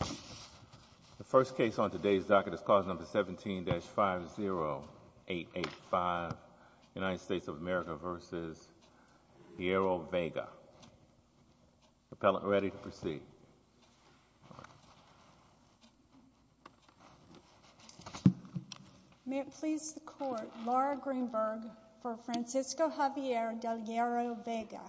The first case on today's docket is clause number 17-50885, United States of America v. Hierro-Vega. Appellant ready to proceed. May it please the Court, Laura Greenberg for Francisco Javier Del Hierro-Vega.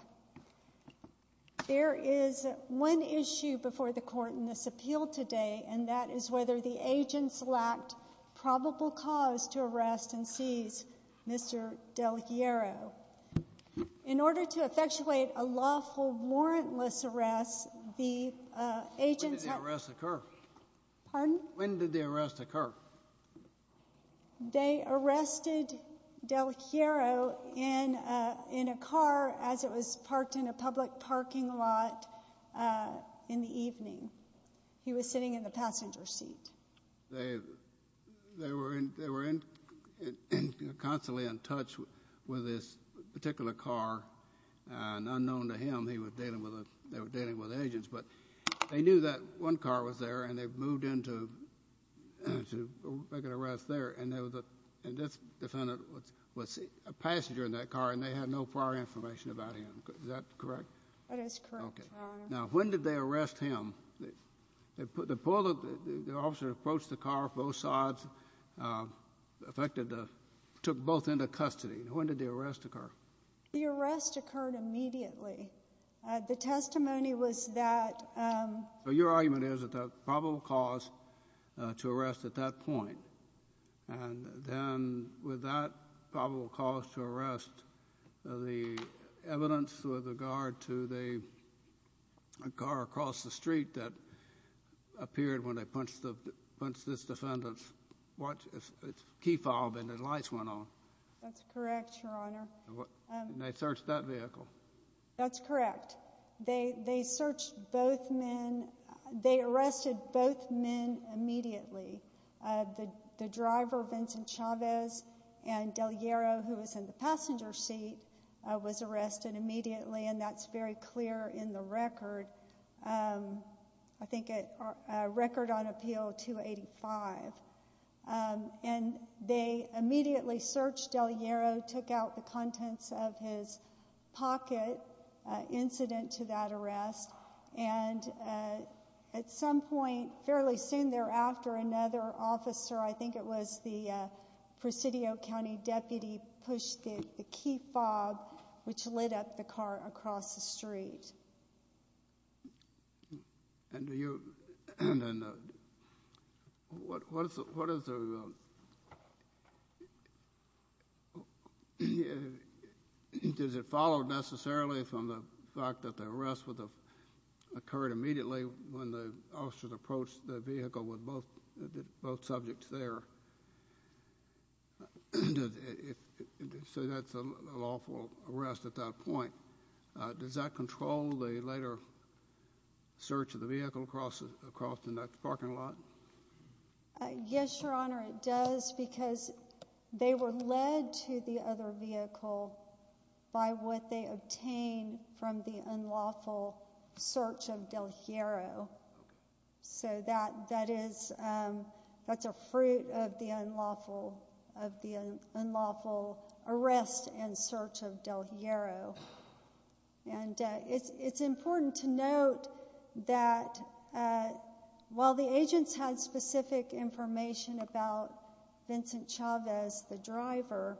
There is one issue before the Court in this appeal today and that is whether the agents lacked probable cause to arrest and seize Mr. Del Hierro. In order to effectuate a lawful warrantless arrest, the agents... When did the arrest occur? Pardon? When did the arrest occur? They arrested Del Hierro in a car as it was parked in a public parking lot in the evening. He was sitting in the passenger seat. They were constantly in touch with this particular car and unknown to him they were dealing with agents, but they knew that one car was there and they moved in to make an arrest there and this defendant was a passenger in that car and they had no prior information about him. Is that correct? That is correct, Your Honor. Now, when did they arrest him? They put the... the officer approached the car, both sides affected... took both into custody. When did the arrest occur? The arrest occurred immediately. The argument is that the probable cause to arrest at that point and then with that probable cause to arrest, the evidence with regard to the car across the street that appeared when they punched this defendant's key fob and the lights went on. That's correct, Your Honor. And they searched that vehicle? That's correct. They arrested both men immediately. The driver, Vincent Chavez, and Del Hierro, who was in the passenger seat, was arrested immediately and that's very clear in the record. I think a record on appeal 285. And they immediately searched Del Hierro, took out the contents of his pocket, incident to that arrest, and at some point, fairly soon thereafter, another officer, I think it was the Presidio County Deputy, pushed the key fob, which lit up the car across the street. And do you... and what is the... does it follow necessarily from the fact that the arrest would have occurred immediately when the officers approached the vehicle with both subjects there? So that's a lawful arrest at that point. Does that control the later search of the vehicle across the next parking lot? Yes, Your Honor, it does because they were led to the other vehicle by what they obtained from the unlawful search of Del Hierro. So that is... that's a fruit of the unlawful of the unlawful arrest and search of Del Hierro. And it's important to note that while the agents had specific information about Vincent Chavez, the driver,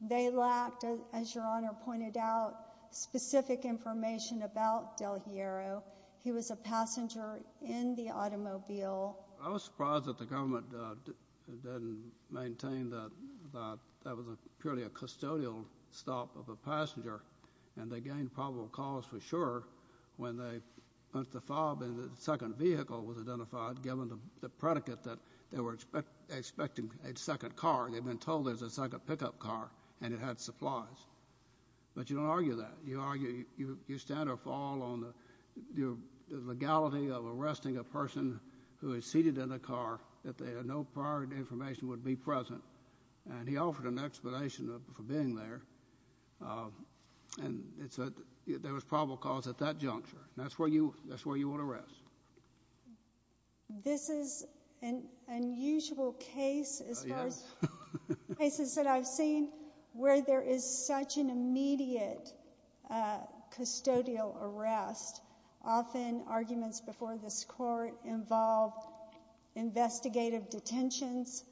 they lacked, as Your Honor pointed out, specific information about Del Hierro. He was a passenger in the automobile. I was surprised that the agents maintained that that was a purely a custodial stop of a passenger and they gained probable cause for sure when they punched the fob and the second vehicle was identified, given the predicate that they were expecting a second car. They'd been told there's a second pickup car and it had supplies. But you don't argue that. You argue... you stand or fall on the legality of arresting a person who is unlawful. You argue that there was no prior information would be present and he offered an explanation for being there and it's a... there was probable cause at that juncture. That's where you... that's where you would arrest. This is an unusual case as far as cases that I've seen where there is such an immediate custodial arrest. Often arguments before this court involved investigative detentions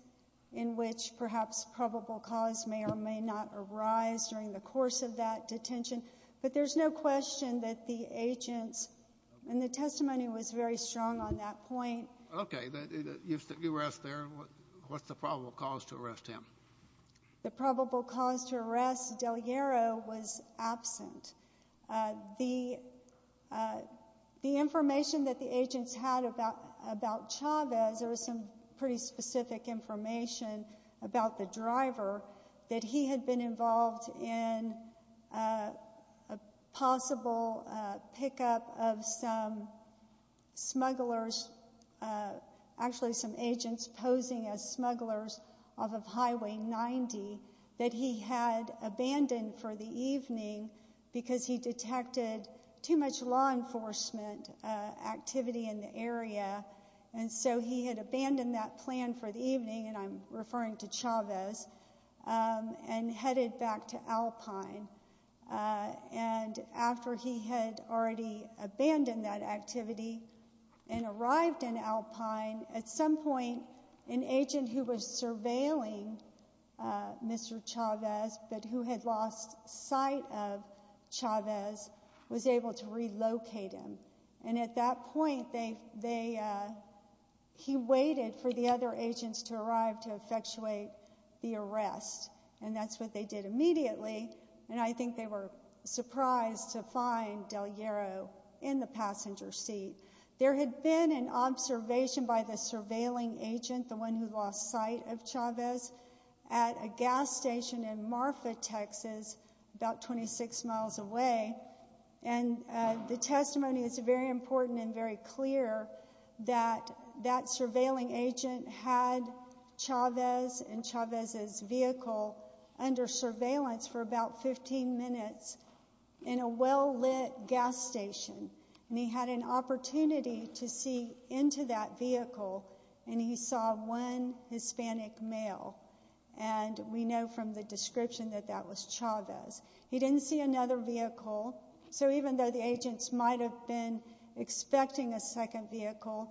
in which perhaps probable cause may or may not arise during the course of that detention. But there's no question that the agents and the testimony was very strong on that point. Okay, you were asked there, what's the probable cause to arrest him? The probable cause to arrest Del Hierro was absent. The information that the agents had about Chavez, there was some pretty specific information about the driver that he had been involved in a possible pickup of some smugglers, actually some agents posing as smugglers off of Highway 90 that he had abandoned for the evening because he detected too much law enforcement activity in the area and so he had abandoned that plan for the evening and I'm referring to Chavez and headed back to Alpine and after he had already abandoned that activity and arrived in Alpine, at some point an agent who was surveilling Mr. Chavez but who had lost sight of Chavez was able to relocate him and at that point he waited for the other agents to arrive to effectuate the arrest and that's what they did immediately and I think they were surprised to find Del Hierro in the passenger seat. There had been an surveilling agent, the one who lost sight of Chavez, at a gas station in Marfa, Texas about 26 miles away and the testimony is very important and very clear that that surveilling agent had Chavez and Chavez's vehicle under surveillance for about 15 minutes in a well-lit gas station and he had an vehicle and he saw one Hispanic male and we know from the description that that was Chavez. He didn't see another vehicle so even though the agents might have been expecting a second vehicle,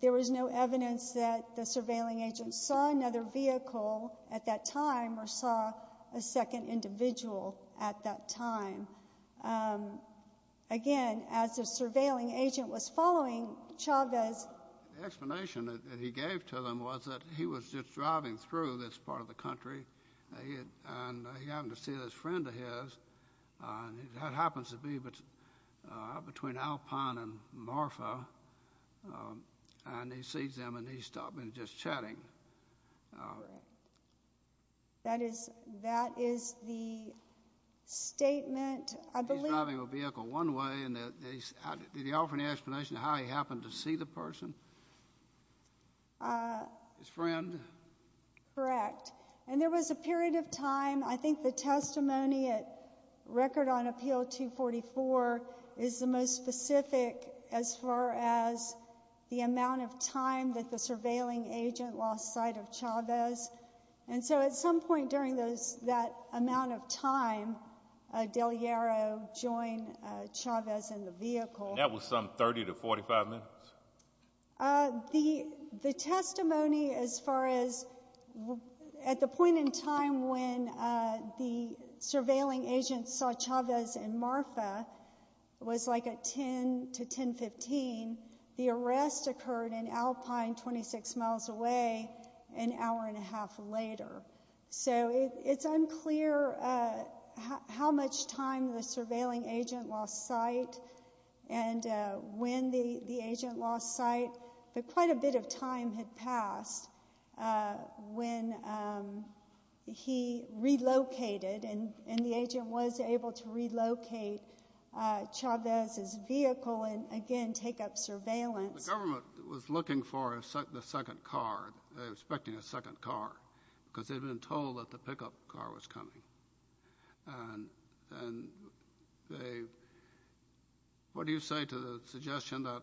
there was no evidence that the surveilling agent saw another vehicle at that time or saw a second individual at that time. Again, as the surveilling agent was following Chavez, the explanation that he gave to them was that he was just driving through this part of the country and he happened to see this friend of his and that happens to be between Alpine and Marfa and he sees them and he stopped and just chatting. That is the statement. He's driving a vehicle one way and did he offer an explanation of how he happened to see the person? His friend? Correct. And there was a period of time, I think the testimony at Record on Appeal 244 is the most specific as far as the amount of time that the surveilling agent saw outside of Chavez and so at some point during that amount of time, Del Llaro joined Chavez in the vehicle. And that was some 30 to 45 minutes? The testimony as far as at the point in time when the surveilling agent saw Chavez and Marfa was like a 10 to 10-15. The arrest occurred in Alpine, 26 miles away. An hour and a half later. So it's unclear how much time the surveilling agent lost sight and when the agent lost sight, but quite a bit of time had passed when he relocated and the agent was able to relocate Chavez's vehicle and again take up surveillance. The government was looking for the second car, expecting a second car because they'd been told that the pickup car was coming. And what do you say to the suggestion that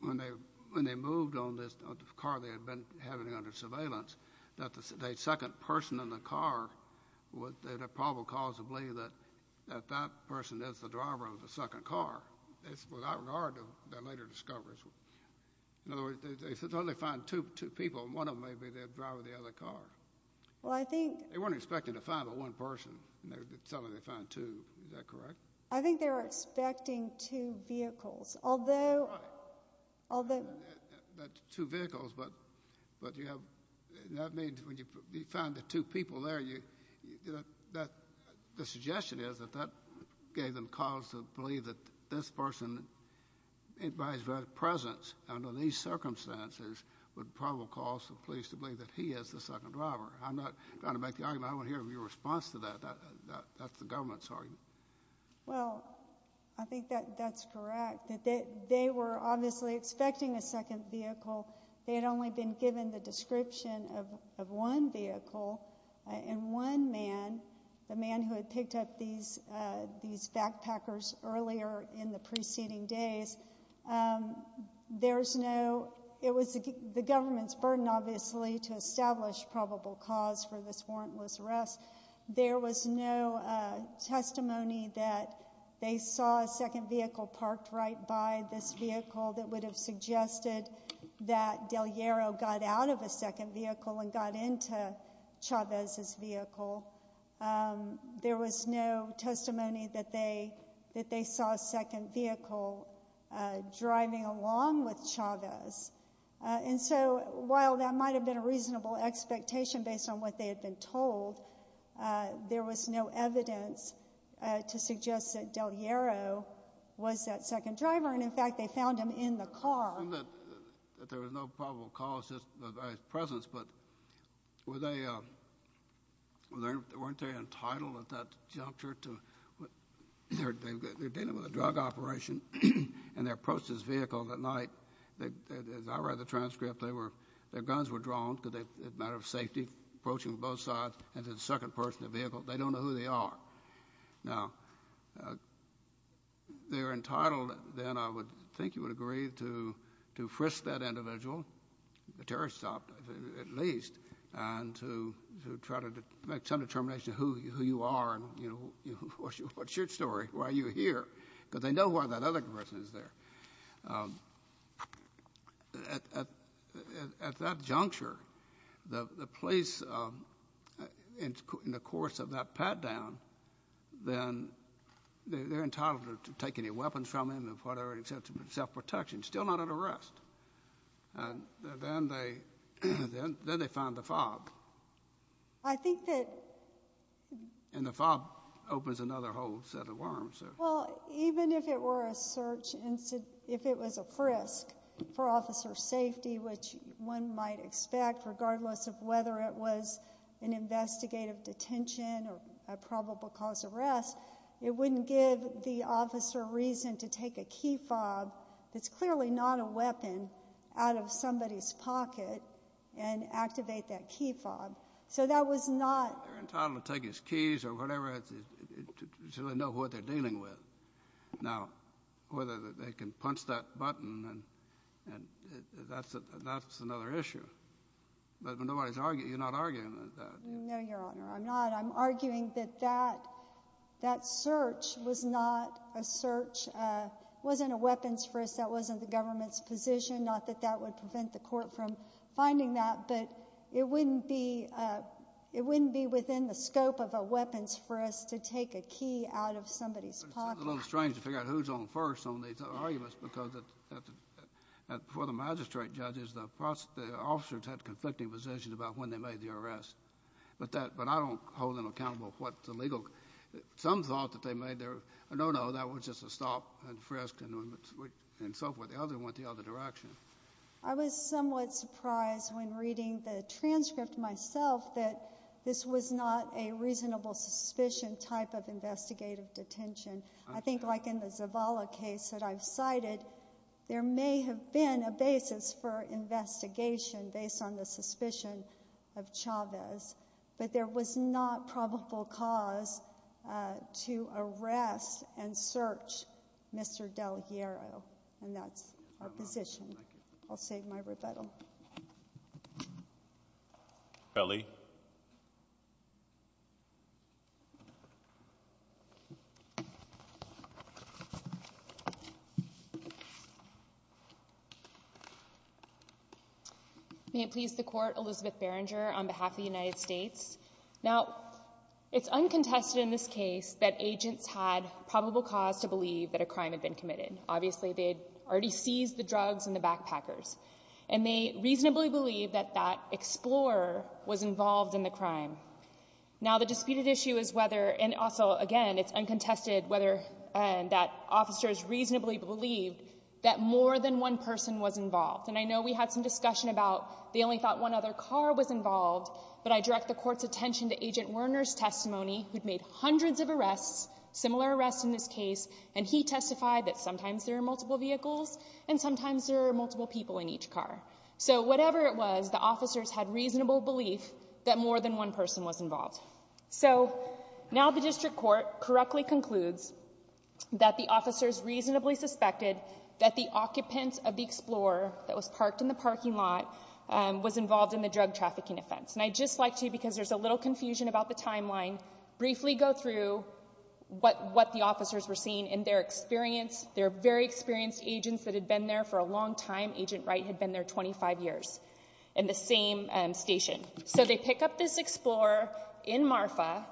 when they moved on this car they had been having under surveillance, that the second person in the car, they're probably causably that that person is the driver of the second car. It's without regard to their later discoveries. In other words, they said they only found two people and one of them may be the driver of the other car. Well, I think. They weren't expecting to find the one person. They were telling me they found two. Is that correct? I think they were expecting two vehicles, although. Although that's two vehicles, but but you have that made when you found the two people there, you know that the suggestion is that that gave them cause to believe that this person. And by his very presence under these circumstances would probably cause the police to believe that he is the second driver. I'm not going to make the argument. I want to hear your response to that. That's the government's argument. Well, I think that that's correct that they were obviously expecting a second vehicle. They had only been given the description of one vehicle and one man. The man who had picked up these these backpackers earlier in the preceding days. There's no. It was the government's burden, obviously, to establish probable cause for this warrantless arrest. There was no testimony that they saw a second vehicle parked right by this vehicle that would have suggested that Del Llero got out of a second vehicle and got into Chavez's vehicle. There was no testimony that they that they saw a second vehicle driving along with Chavez. And so while that might have been a reasonable expectation based on what they had been told, there was no evidence to suggest that Del Llero was that second driver. And in fact, they found him in the car. I assume that there was no probable cause, just by his presence. But were they weren't they entitled at that juncture to what they're dealing with a drug operation and they approached this vehicle that night. As I read the transcript, they were their guns were drawn because they had a matter of safety approaching both sides and the second person in the vehicle. They don't know who they are now. They're entitled, then I would think you would agree, to to frisk that individual, the terrorist stop, at least, and to try to make some determination who you are and, you know, what's your story? Why are you here? Because they know why that other person is there. At that juncture, the police, in the course of that pat down, then they're entitled to take any weapons from him and whatever, except for self-protection, still not under arrest. And then they then they find the FOB. I think that in the FOB opens another whole set of worms. Well, even if it were a search and if it was a frisk for officer safety, which one might expect, regardless of whether it was an investigative detention or a probable cause arrest, it wouldn't give the officer reason to take a key fob. That's clearly not a weapon out of somebody's pocket and activate that key fob. So that was not... They're entitled to take his keys or whatever, so they know what they're dealing with. Now, whether they can punch that button, that's another issue. But you're not arguing with that. No, Your Honor, I'm not. I'm arguing that that search was not a search, wasn't a weapons frisk, that wasn't the government's position. Not that that would prevent the court from finding that, but it wouldn't be within the scope of a weapons frisk to take a key out of somebody's pocket. It's a little strange to figure out who's on first on these arguments because before the magistrate judges, the officers had conflicting positions about when they made the arrest. But I don't hold them accountable for what the legal... Some thought that they made their... No, no, that was just a stop and frisk and so forth. The other one went the other direction. I was somewhat surprised when reading the transcript myself that this was not a reasonable suspicion type of investigative detention. I think like in the Zavala case that I've cited, there may have been a basis for investigation based on the suspicion of Chavez, but there was not probable cause to arrest and search Mr. Del Hierro. And that's our position. I'll save my rebuttal. Ellie. May it please the court, Elizabeth Berenger on behalf of the United States. Now, it's uncontested in this case that agents had probable cause to believe that a crime had been committed. Obviously, they had already seized the drugs and the backpackers, and they reasonably believe that that explorer was involved in the crime. Now, the disputed issue is whether... And also, again, it's uncontested whether that officers reasonably believed that more than one person was involved. And I know we had some discussion about they only thought one other car was involved, but I direct the court's attention to Agent Werner's testimony, who'd made hundreds of arrests, similar arrests in this case, and he testified that sometimes there are multiple vehicles and sometimes there are multiple people in each car. So, whatever it was, the officers had reasonable belief that more than one person was involved. So, now the district court correctly concludes that the officers reasonably suspected that the occupant of the explorer that was parked in the parking lot was involved in the drug trafficking offense. And I'd just like to, because there's a little confusion about the timeline, briefly go through what the officers were seeing in their experience. They're very experienced agents that had been there for a long time. Agent Wright had been there 25 years in the same station. So, they pick up this explorer in Marfa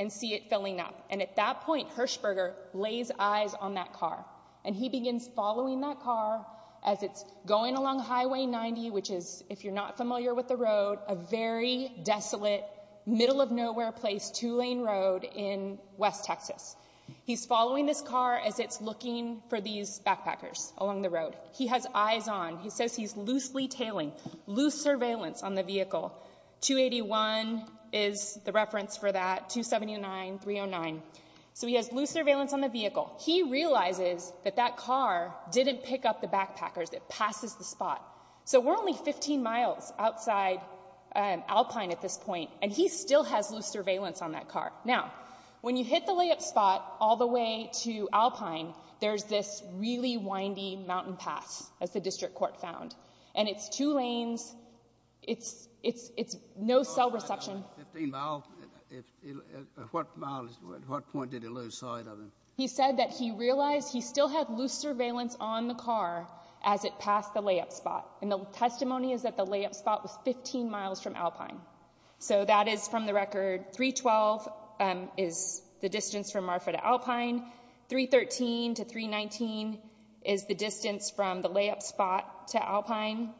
and see it filling up. And at that point, Hirschberger lays eyes on that car. And he begins following that car as it's going along Highway 90, which is, if you're not familiar with the road, a very desolate, middle-of-nowhere place, two-lane road in West Texas. He's following this car as it's looking for these backpackers along the road. He has eyes on. He says he's loosely tailing, loose surveillance on the vehicle. 281 is the reference for that, 279, 309. So, he has loose surveillance on the vehicle. He realizes that that car didn't pick up the backpackers. It passes the spot. So, we're only 15 miles outside Alpine at this point. And he still has loose surveillance on that car. Now, when you hit the layup spot all the way to Alpine, there's this really windy mountain pass, as the district court found. And it's two lanes. It's no cell reception. At what point did he lose sight of him? He said that he realized he still had loose surveillance on the car as it passed the layup spot. And the testimony is that the layup spot was 15 miles from Alpine. So, that is from the record. 312 is the distance from Marfa to Alpine. 313 to 319 is the distance from the layup spot to Alpine.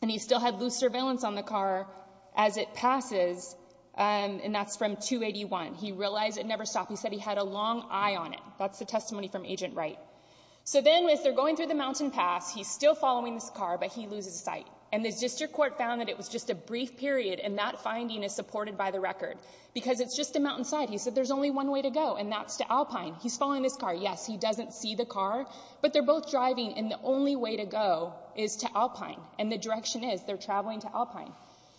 And he still had loose surveillance on the car as it passes. And that's from 281. He realized it never stopped. He said he had a long eye on it. That's the testimony from Agent Wright. So, then as they're going through the mountain pass, he's still following this car, but he loses sight. And the district court found that it was just a brief period, and that finding is supported by the record. Because it's just a mountainside. He said there's only one way to go, and that's to Alpine. He's following this car. Yes, he doesn't see the car, but they're both driving, and the only way to go is to Alpine. And the direction is they're traveling to Alpine.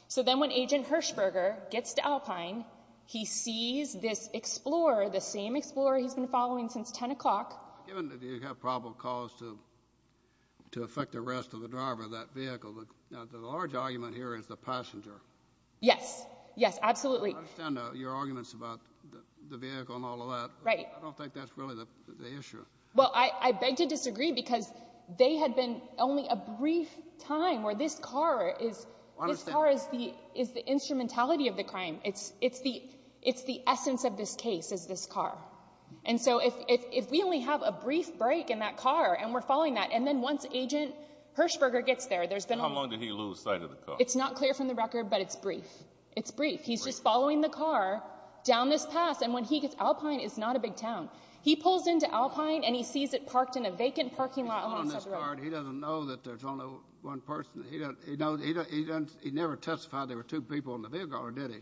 So, then when Agent Hershberger gets to Alpine, he sees this Explorer, the same Explorer he's been following since 10 o'clock. Given that you have probable cause to affect the rest of the driver of that vehicle, the large argument here is the passenger. Yes. Yes, absolutely. I understand your arguments about the vehicle and all of that. Right. I don't think that's really the issue. Well, I beg to disagree, because they had been only a brief time where this car is... This car is the instrumentality of the crime. It's the essence of this case, is this car. And so, if we only have a brief break in that car, and we're following that, and then once Agent Hershberger gets there, there's been... How long did he lose sight of the car? It's not clear from the record, but it's brief. It's brief. He's just following the car down this pass, and when he gets to Alpine, it's not a big town. He pulls into Alpine, and he sees it parked in a vacant parking lot alongside the road. He doesn't know that there's only one person. He never testified there were two people in the vehicle, or did he?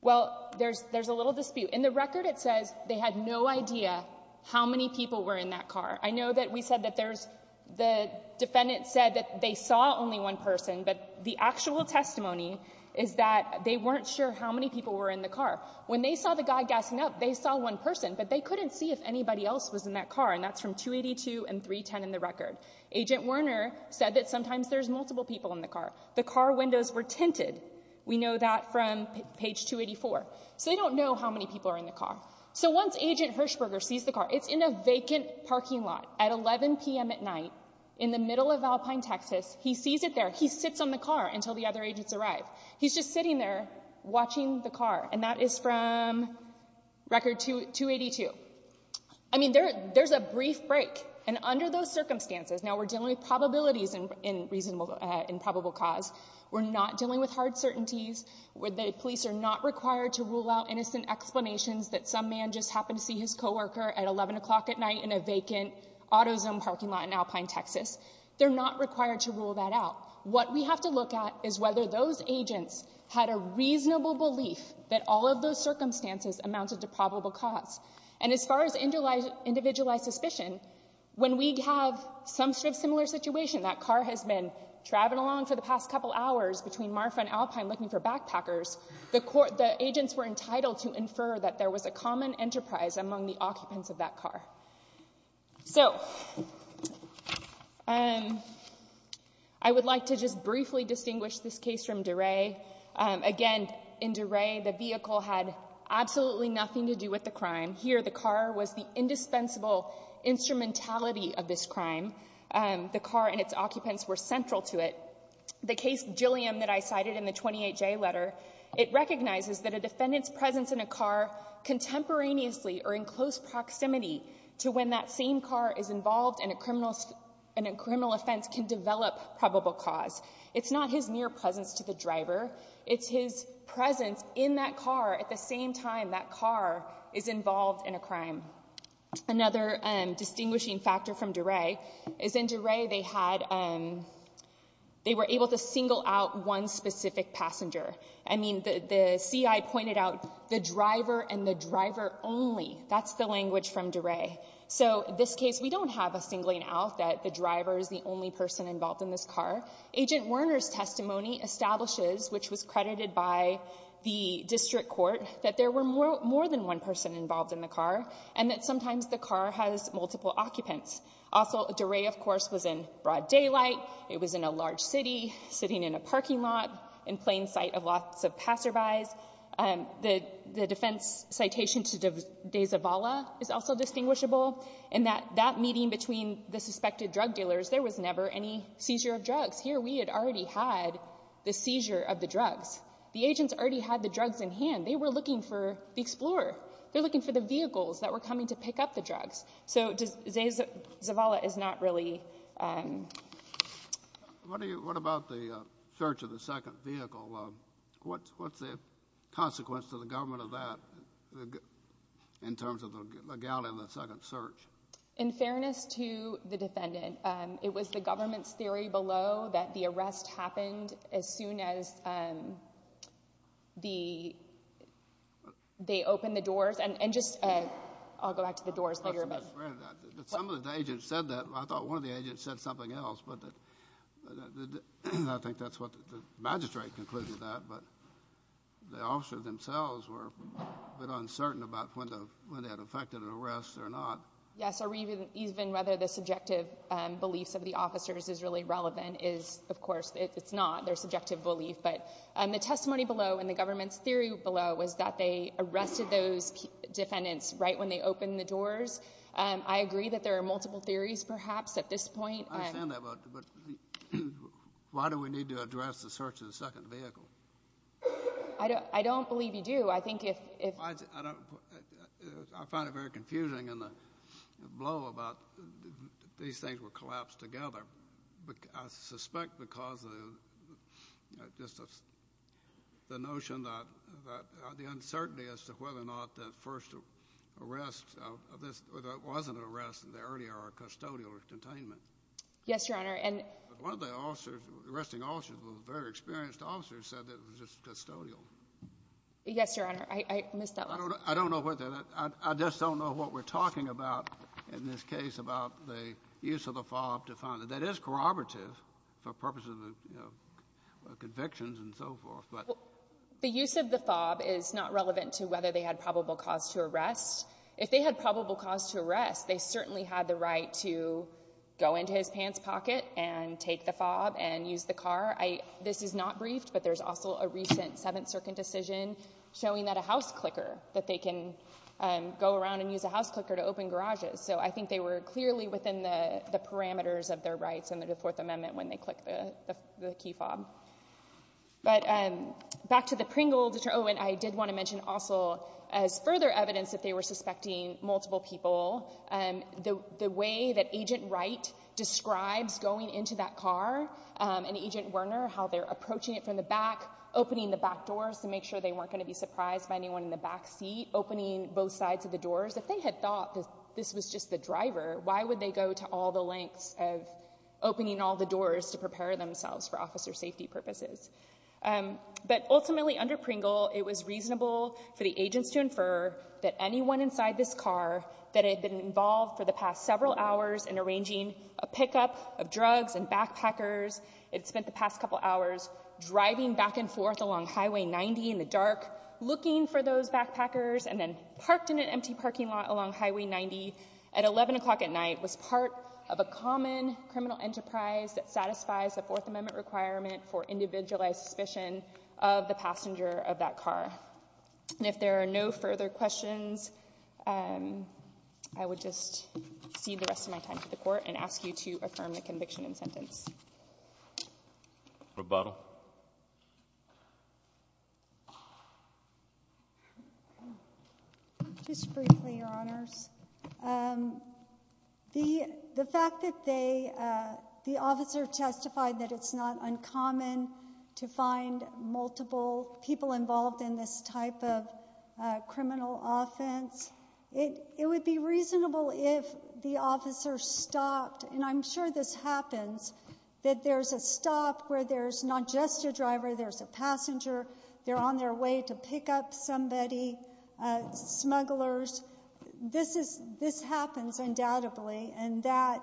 Well, there's a little dispute. In the record, it says they had no idea how many people were in that car. I know that we said that there's... The defendant said that they saw only one person, but the actual testimony is that they weren't sure how many people were in the car. When they saw the guy gassing up, they saw one person, but they couldn't see if anybody else was in that car, and that's from 282 and 310 in the record. Agent Werner said that sometimes there's multiple people in the car. The car windows were tinted. We know that from page 284. So they don't know how many people are in the car. So once Agent Hirshberger sees the car, it's in a vacant parking lot at 11 p.m. at night in the middle of Alpine, Texas. He sees it there. He sits on the car until the other agents arrive. He's just sitting there watching the car, and that is from record 282. I mean, there's a brief break, and under those circumstances... We're dealing with probabilities in probable cause. We're not dealing with hard certainties where the police are not required to rule out innocent explanations that some man just happened to see his co-worker at 11 o'clock at night in a vacant auto zone parking lot in Alpine, Texas. They're not required to rule that out. What we have to look at is whether those agents had a reasonable belief that all of those circumstances amounted to probable cause. And as far as individualized suspicion, when we have some sort of similar situation... That car has been traveling along for the past couple hours between Marfa and Alpine looking for backpackers. The agents were entitled to infer that there was a common enterprise among the occupants of that car. So I would like to just briefly distinguish this case from DeRay. Again, in DeRay, the vehicle had absolutely nothing to do with the crime. Here, the car was the indispensable instrumentality of this crime. The car and its occupants were central to it. The case Gilliam that I cited in the 28J letter, it recognizes that a defendant's presence in a car contemporaneously or in close proximity to when that same car is involved in a criminal offense can develop probable cause. It's not his mere presence to the driver. It's his presence in that car at the same time that car is involved in a crime. Another distinguishing factor from DeRay is in DeRay, they were able to single out one specific passenger. I mean, the CI pointed out the driver and the driver only. That's the language from DeRay. So in this case, we don't have a singling out that the driver is the only person involved in this car. Agent Werner's testimony establishes, which was credited by the district court, that there were more than one person involved in the car and that sometimes the car has multiple occupants. Also, DeRay, of course, was in broad daylight. It was in a large city, sitting in a parking lot in plain sight of lots of passerbys. The defense citation to DeZavala is also distinguishable in that that meeting between the suspected drug dealers, there was never any seizure of drugs. Here, we had already had the seizure of the drugs. The agents already had the drugs in hand. They were looking for the explorer. They're looking for the vehicles that were coming to pick up the drugs. So DeZavala is not really... What about the search of the second vehicle? What's the consequence to the government of that in terms of the legality of the second search? In fairness to the defendant, it was the government's theory below that the arrest happened as soon as they opened the doors and just... I'll go back to the doors later. Some of the agents said that. I thought one of the agents said something else. I think that's what the magistrate concluded that. But the officer themselves were a bit uncertain about when they had effected an arrest or not. Yes, or even whether the subjective beliefs of the officers is really relevant is, of course, it's not their subjective belief. But the testimony below and the government's theory below was that they arrested those defendants right when they opened the doors. I agree that there are multiple theories perhaps at this point. I understand that, but why do we need to address the search of the second vehicle? I don't believe you do. I think if... I don't... I find it very confusing in the blow about these things were collapsed together. I suspect because of just the notion that the uncertainty as to whether or not that first arrest of this, whether it wasn't an arrest in the earlier or custodial containment. Yes, Your Honor. And one of the officers, arresting officers, was a very experienced officer who said that it was just custodial. Yes, Your Honor. I missed that last part. I don't know what that... I just don't know what we're talking about in this case about the use of the fob to find that that is corroborative for purposes of convictions and so forth, but... The use of the fob is not relevant to whether they had probable cause to arrest. If they had probable cause to arrest, they certainly had the right to go into his pants pocket and take the fob and use the car. This is not briefed, but there's also a recent Seventh Circuit decision showing that a house clicker, that they can go around and use a house clicker to open garages. So I think they were clearly within the parameters of their rights under the Fourth Amendment when they click the key fob. But back to the Pringle deter... Oh, and I did want to mention also as further evidence that they were suspecting multiple people, the way that Agent Wright describes going into that car and Agent Werner, how they're approaching it from the back, opening the back doors to make sure they weren't going to be surprised by anyone in the back seat, opening both sides of the doors. If they had thought that this was just the driver, why would they go to all the lengths of opening all the doors to prepare themselves for officer safety purposes? But ultimately, under Pringle, it was reasonable for the agents to infer that anyone inside this car that had been involved for the past several hours in arranging a pickup of drugs and driving back and forth along Highway 90 in the dark, looking for those backpackers, and then parked in an empty parking lot along Highway 90 at 11 o'clock at night was part of a common criminal enterprise that satisfies the Fourth Amendment requirement for individualized suspicion of the passenger of that car. And if there are no further questions, I would just cede the rest of my time to the court and ask you to affirm the conviction and sentence. Rebuttal. Just briefly, Your Honors. The fact that the officer testified that it's not uncommon to find multiple people involved in this type of criminal offense, it would be reasonable if the officer stopped, and I'm sure this happens, that there's a stop where there's not just a driver, there's a passenger, they're on their way to pick up somebody, smugglers, this happens undoubtedly, and that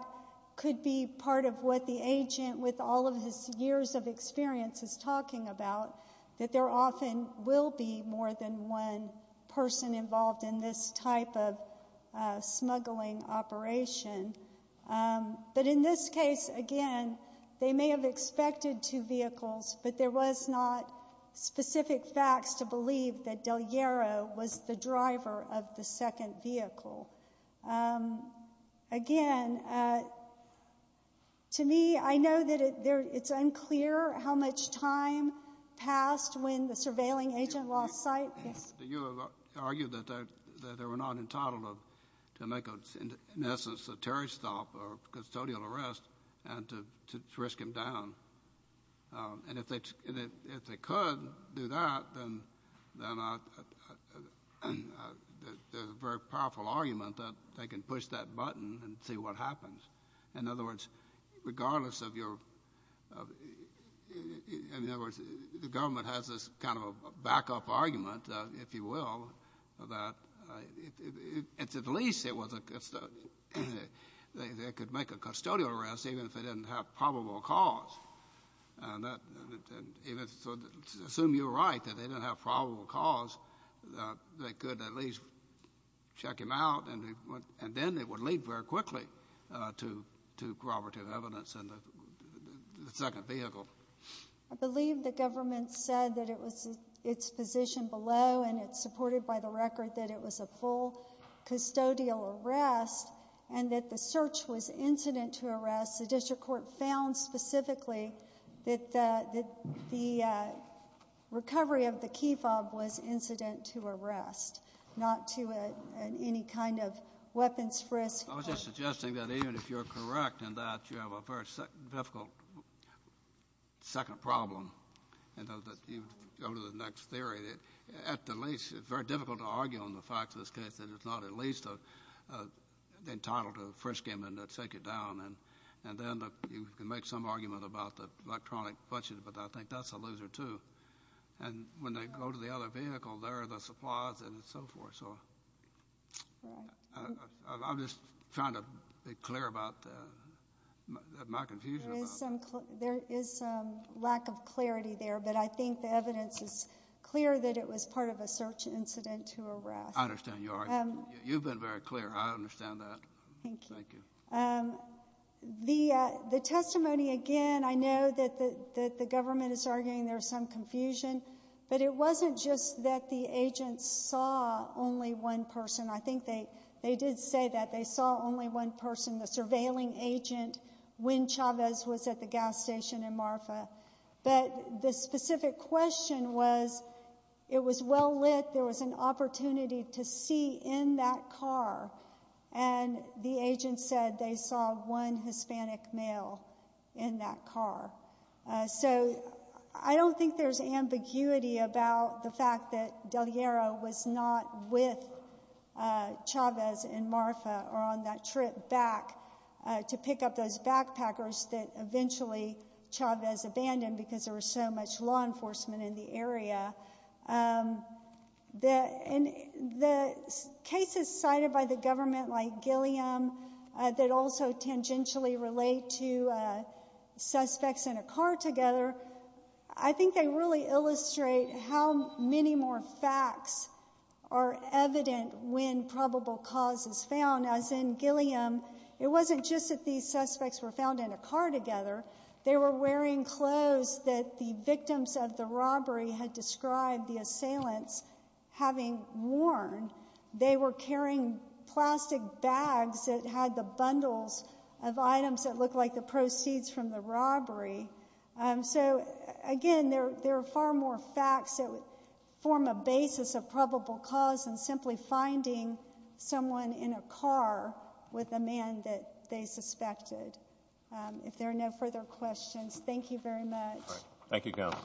could be part of what the agent, with all of his years of experience, is talking about, that there often will be more than one person involved in this type of smuggling operation. But in this case, again, they may have expected two vehicles, but there was not specific facts to believe that Del Llero was the driver of the second vehicle. Again, to me, I know that it's unclear how much time passed when the surveilling agent lost sight. Do you argue that they were not entitled to make, in essence, a terrorist stop or custodial arrest and to risk him down? And if they could do that, then there's a very powerful argument that they can push that button and see what happens. In other words, regardless of your— if you will, at least they could make a custodial arrest even if they didn't have probable cause. Assume you're right, that they didn't have probable cause, they could at least check him out, and then it would lead very quickly to corroborative evidence in the second vehicle. I believe the government said that it was its position below, and it's supported by the record that it was a full custodial arrest and that the search was incident to arrest. The district court found specifically that the recovery of the key fob was incident to arrest, not to any kind of weapons risk. I was just suggesting that even if you're correct in that, you have a very difficult second problem and that you go to the next theory. At the least, it's very difficult to argue on the fact of this case that it's not at least entitled to frisk him and to take it down. And then you can make some argument about the electronic budget, but I think that's a loser too. And when they go to the other vehicle, there are the supplies and so forth. I'm just trying to be clear about my confusion. There is some lack of clarity there, but I think the evidence is clear that it was part of a search incident to arrest. I understand. You've been very clear. I understand that. Thank you. The testimony, again, I know that the government is arguing there's some confusion, but it wasn't just that the agents saw only one person. I think they did say that they saw only one person, the surveilling agent, when Chavez was at the gas station in Marfa. But the specific question was, it was well lit. There was an opportunity to see in that car. And the agent said they saw one Hispanic male in that car. So I don't think there's ambiguity about the fact that Del Llero was not with Chavez and Marfa or on that trip back to pick up those backpackers that eventually Chavez abandoned because there was so much law enforcement in the area. And the cases cited by the government like Gilliam that also tangentially relate to suspects in a car together, I think they really illustrate how many more facts are evident when probable cause is found. As in Gilliam, it wasn't just that these suspects were found in a car assailants having worn. They were carrying plastic bags that had the bundles of items that looked like the proceeds from the robbery. So again, there are far more facts that would form a basis of probable cause than simply finding someone in a car with a man that they suspected. If there are no further questions, thank you very much. Thank you, Counsel.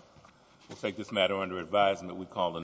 We'll take this matter under advisement. We call the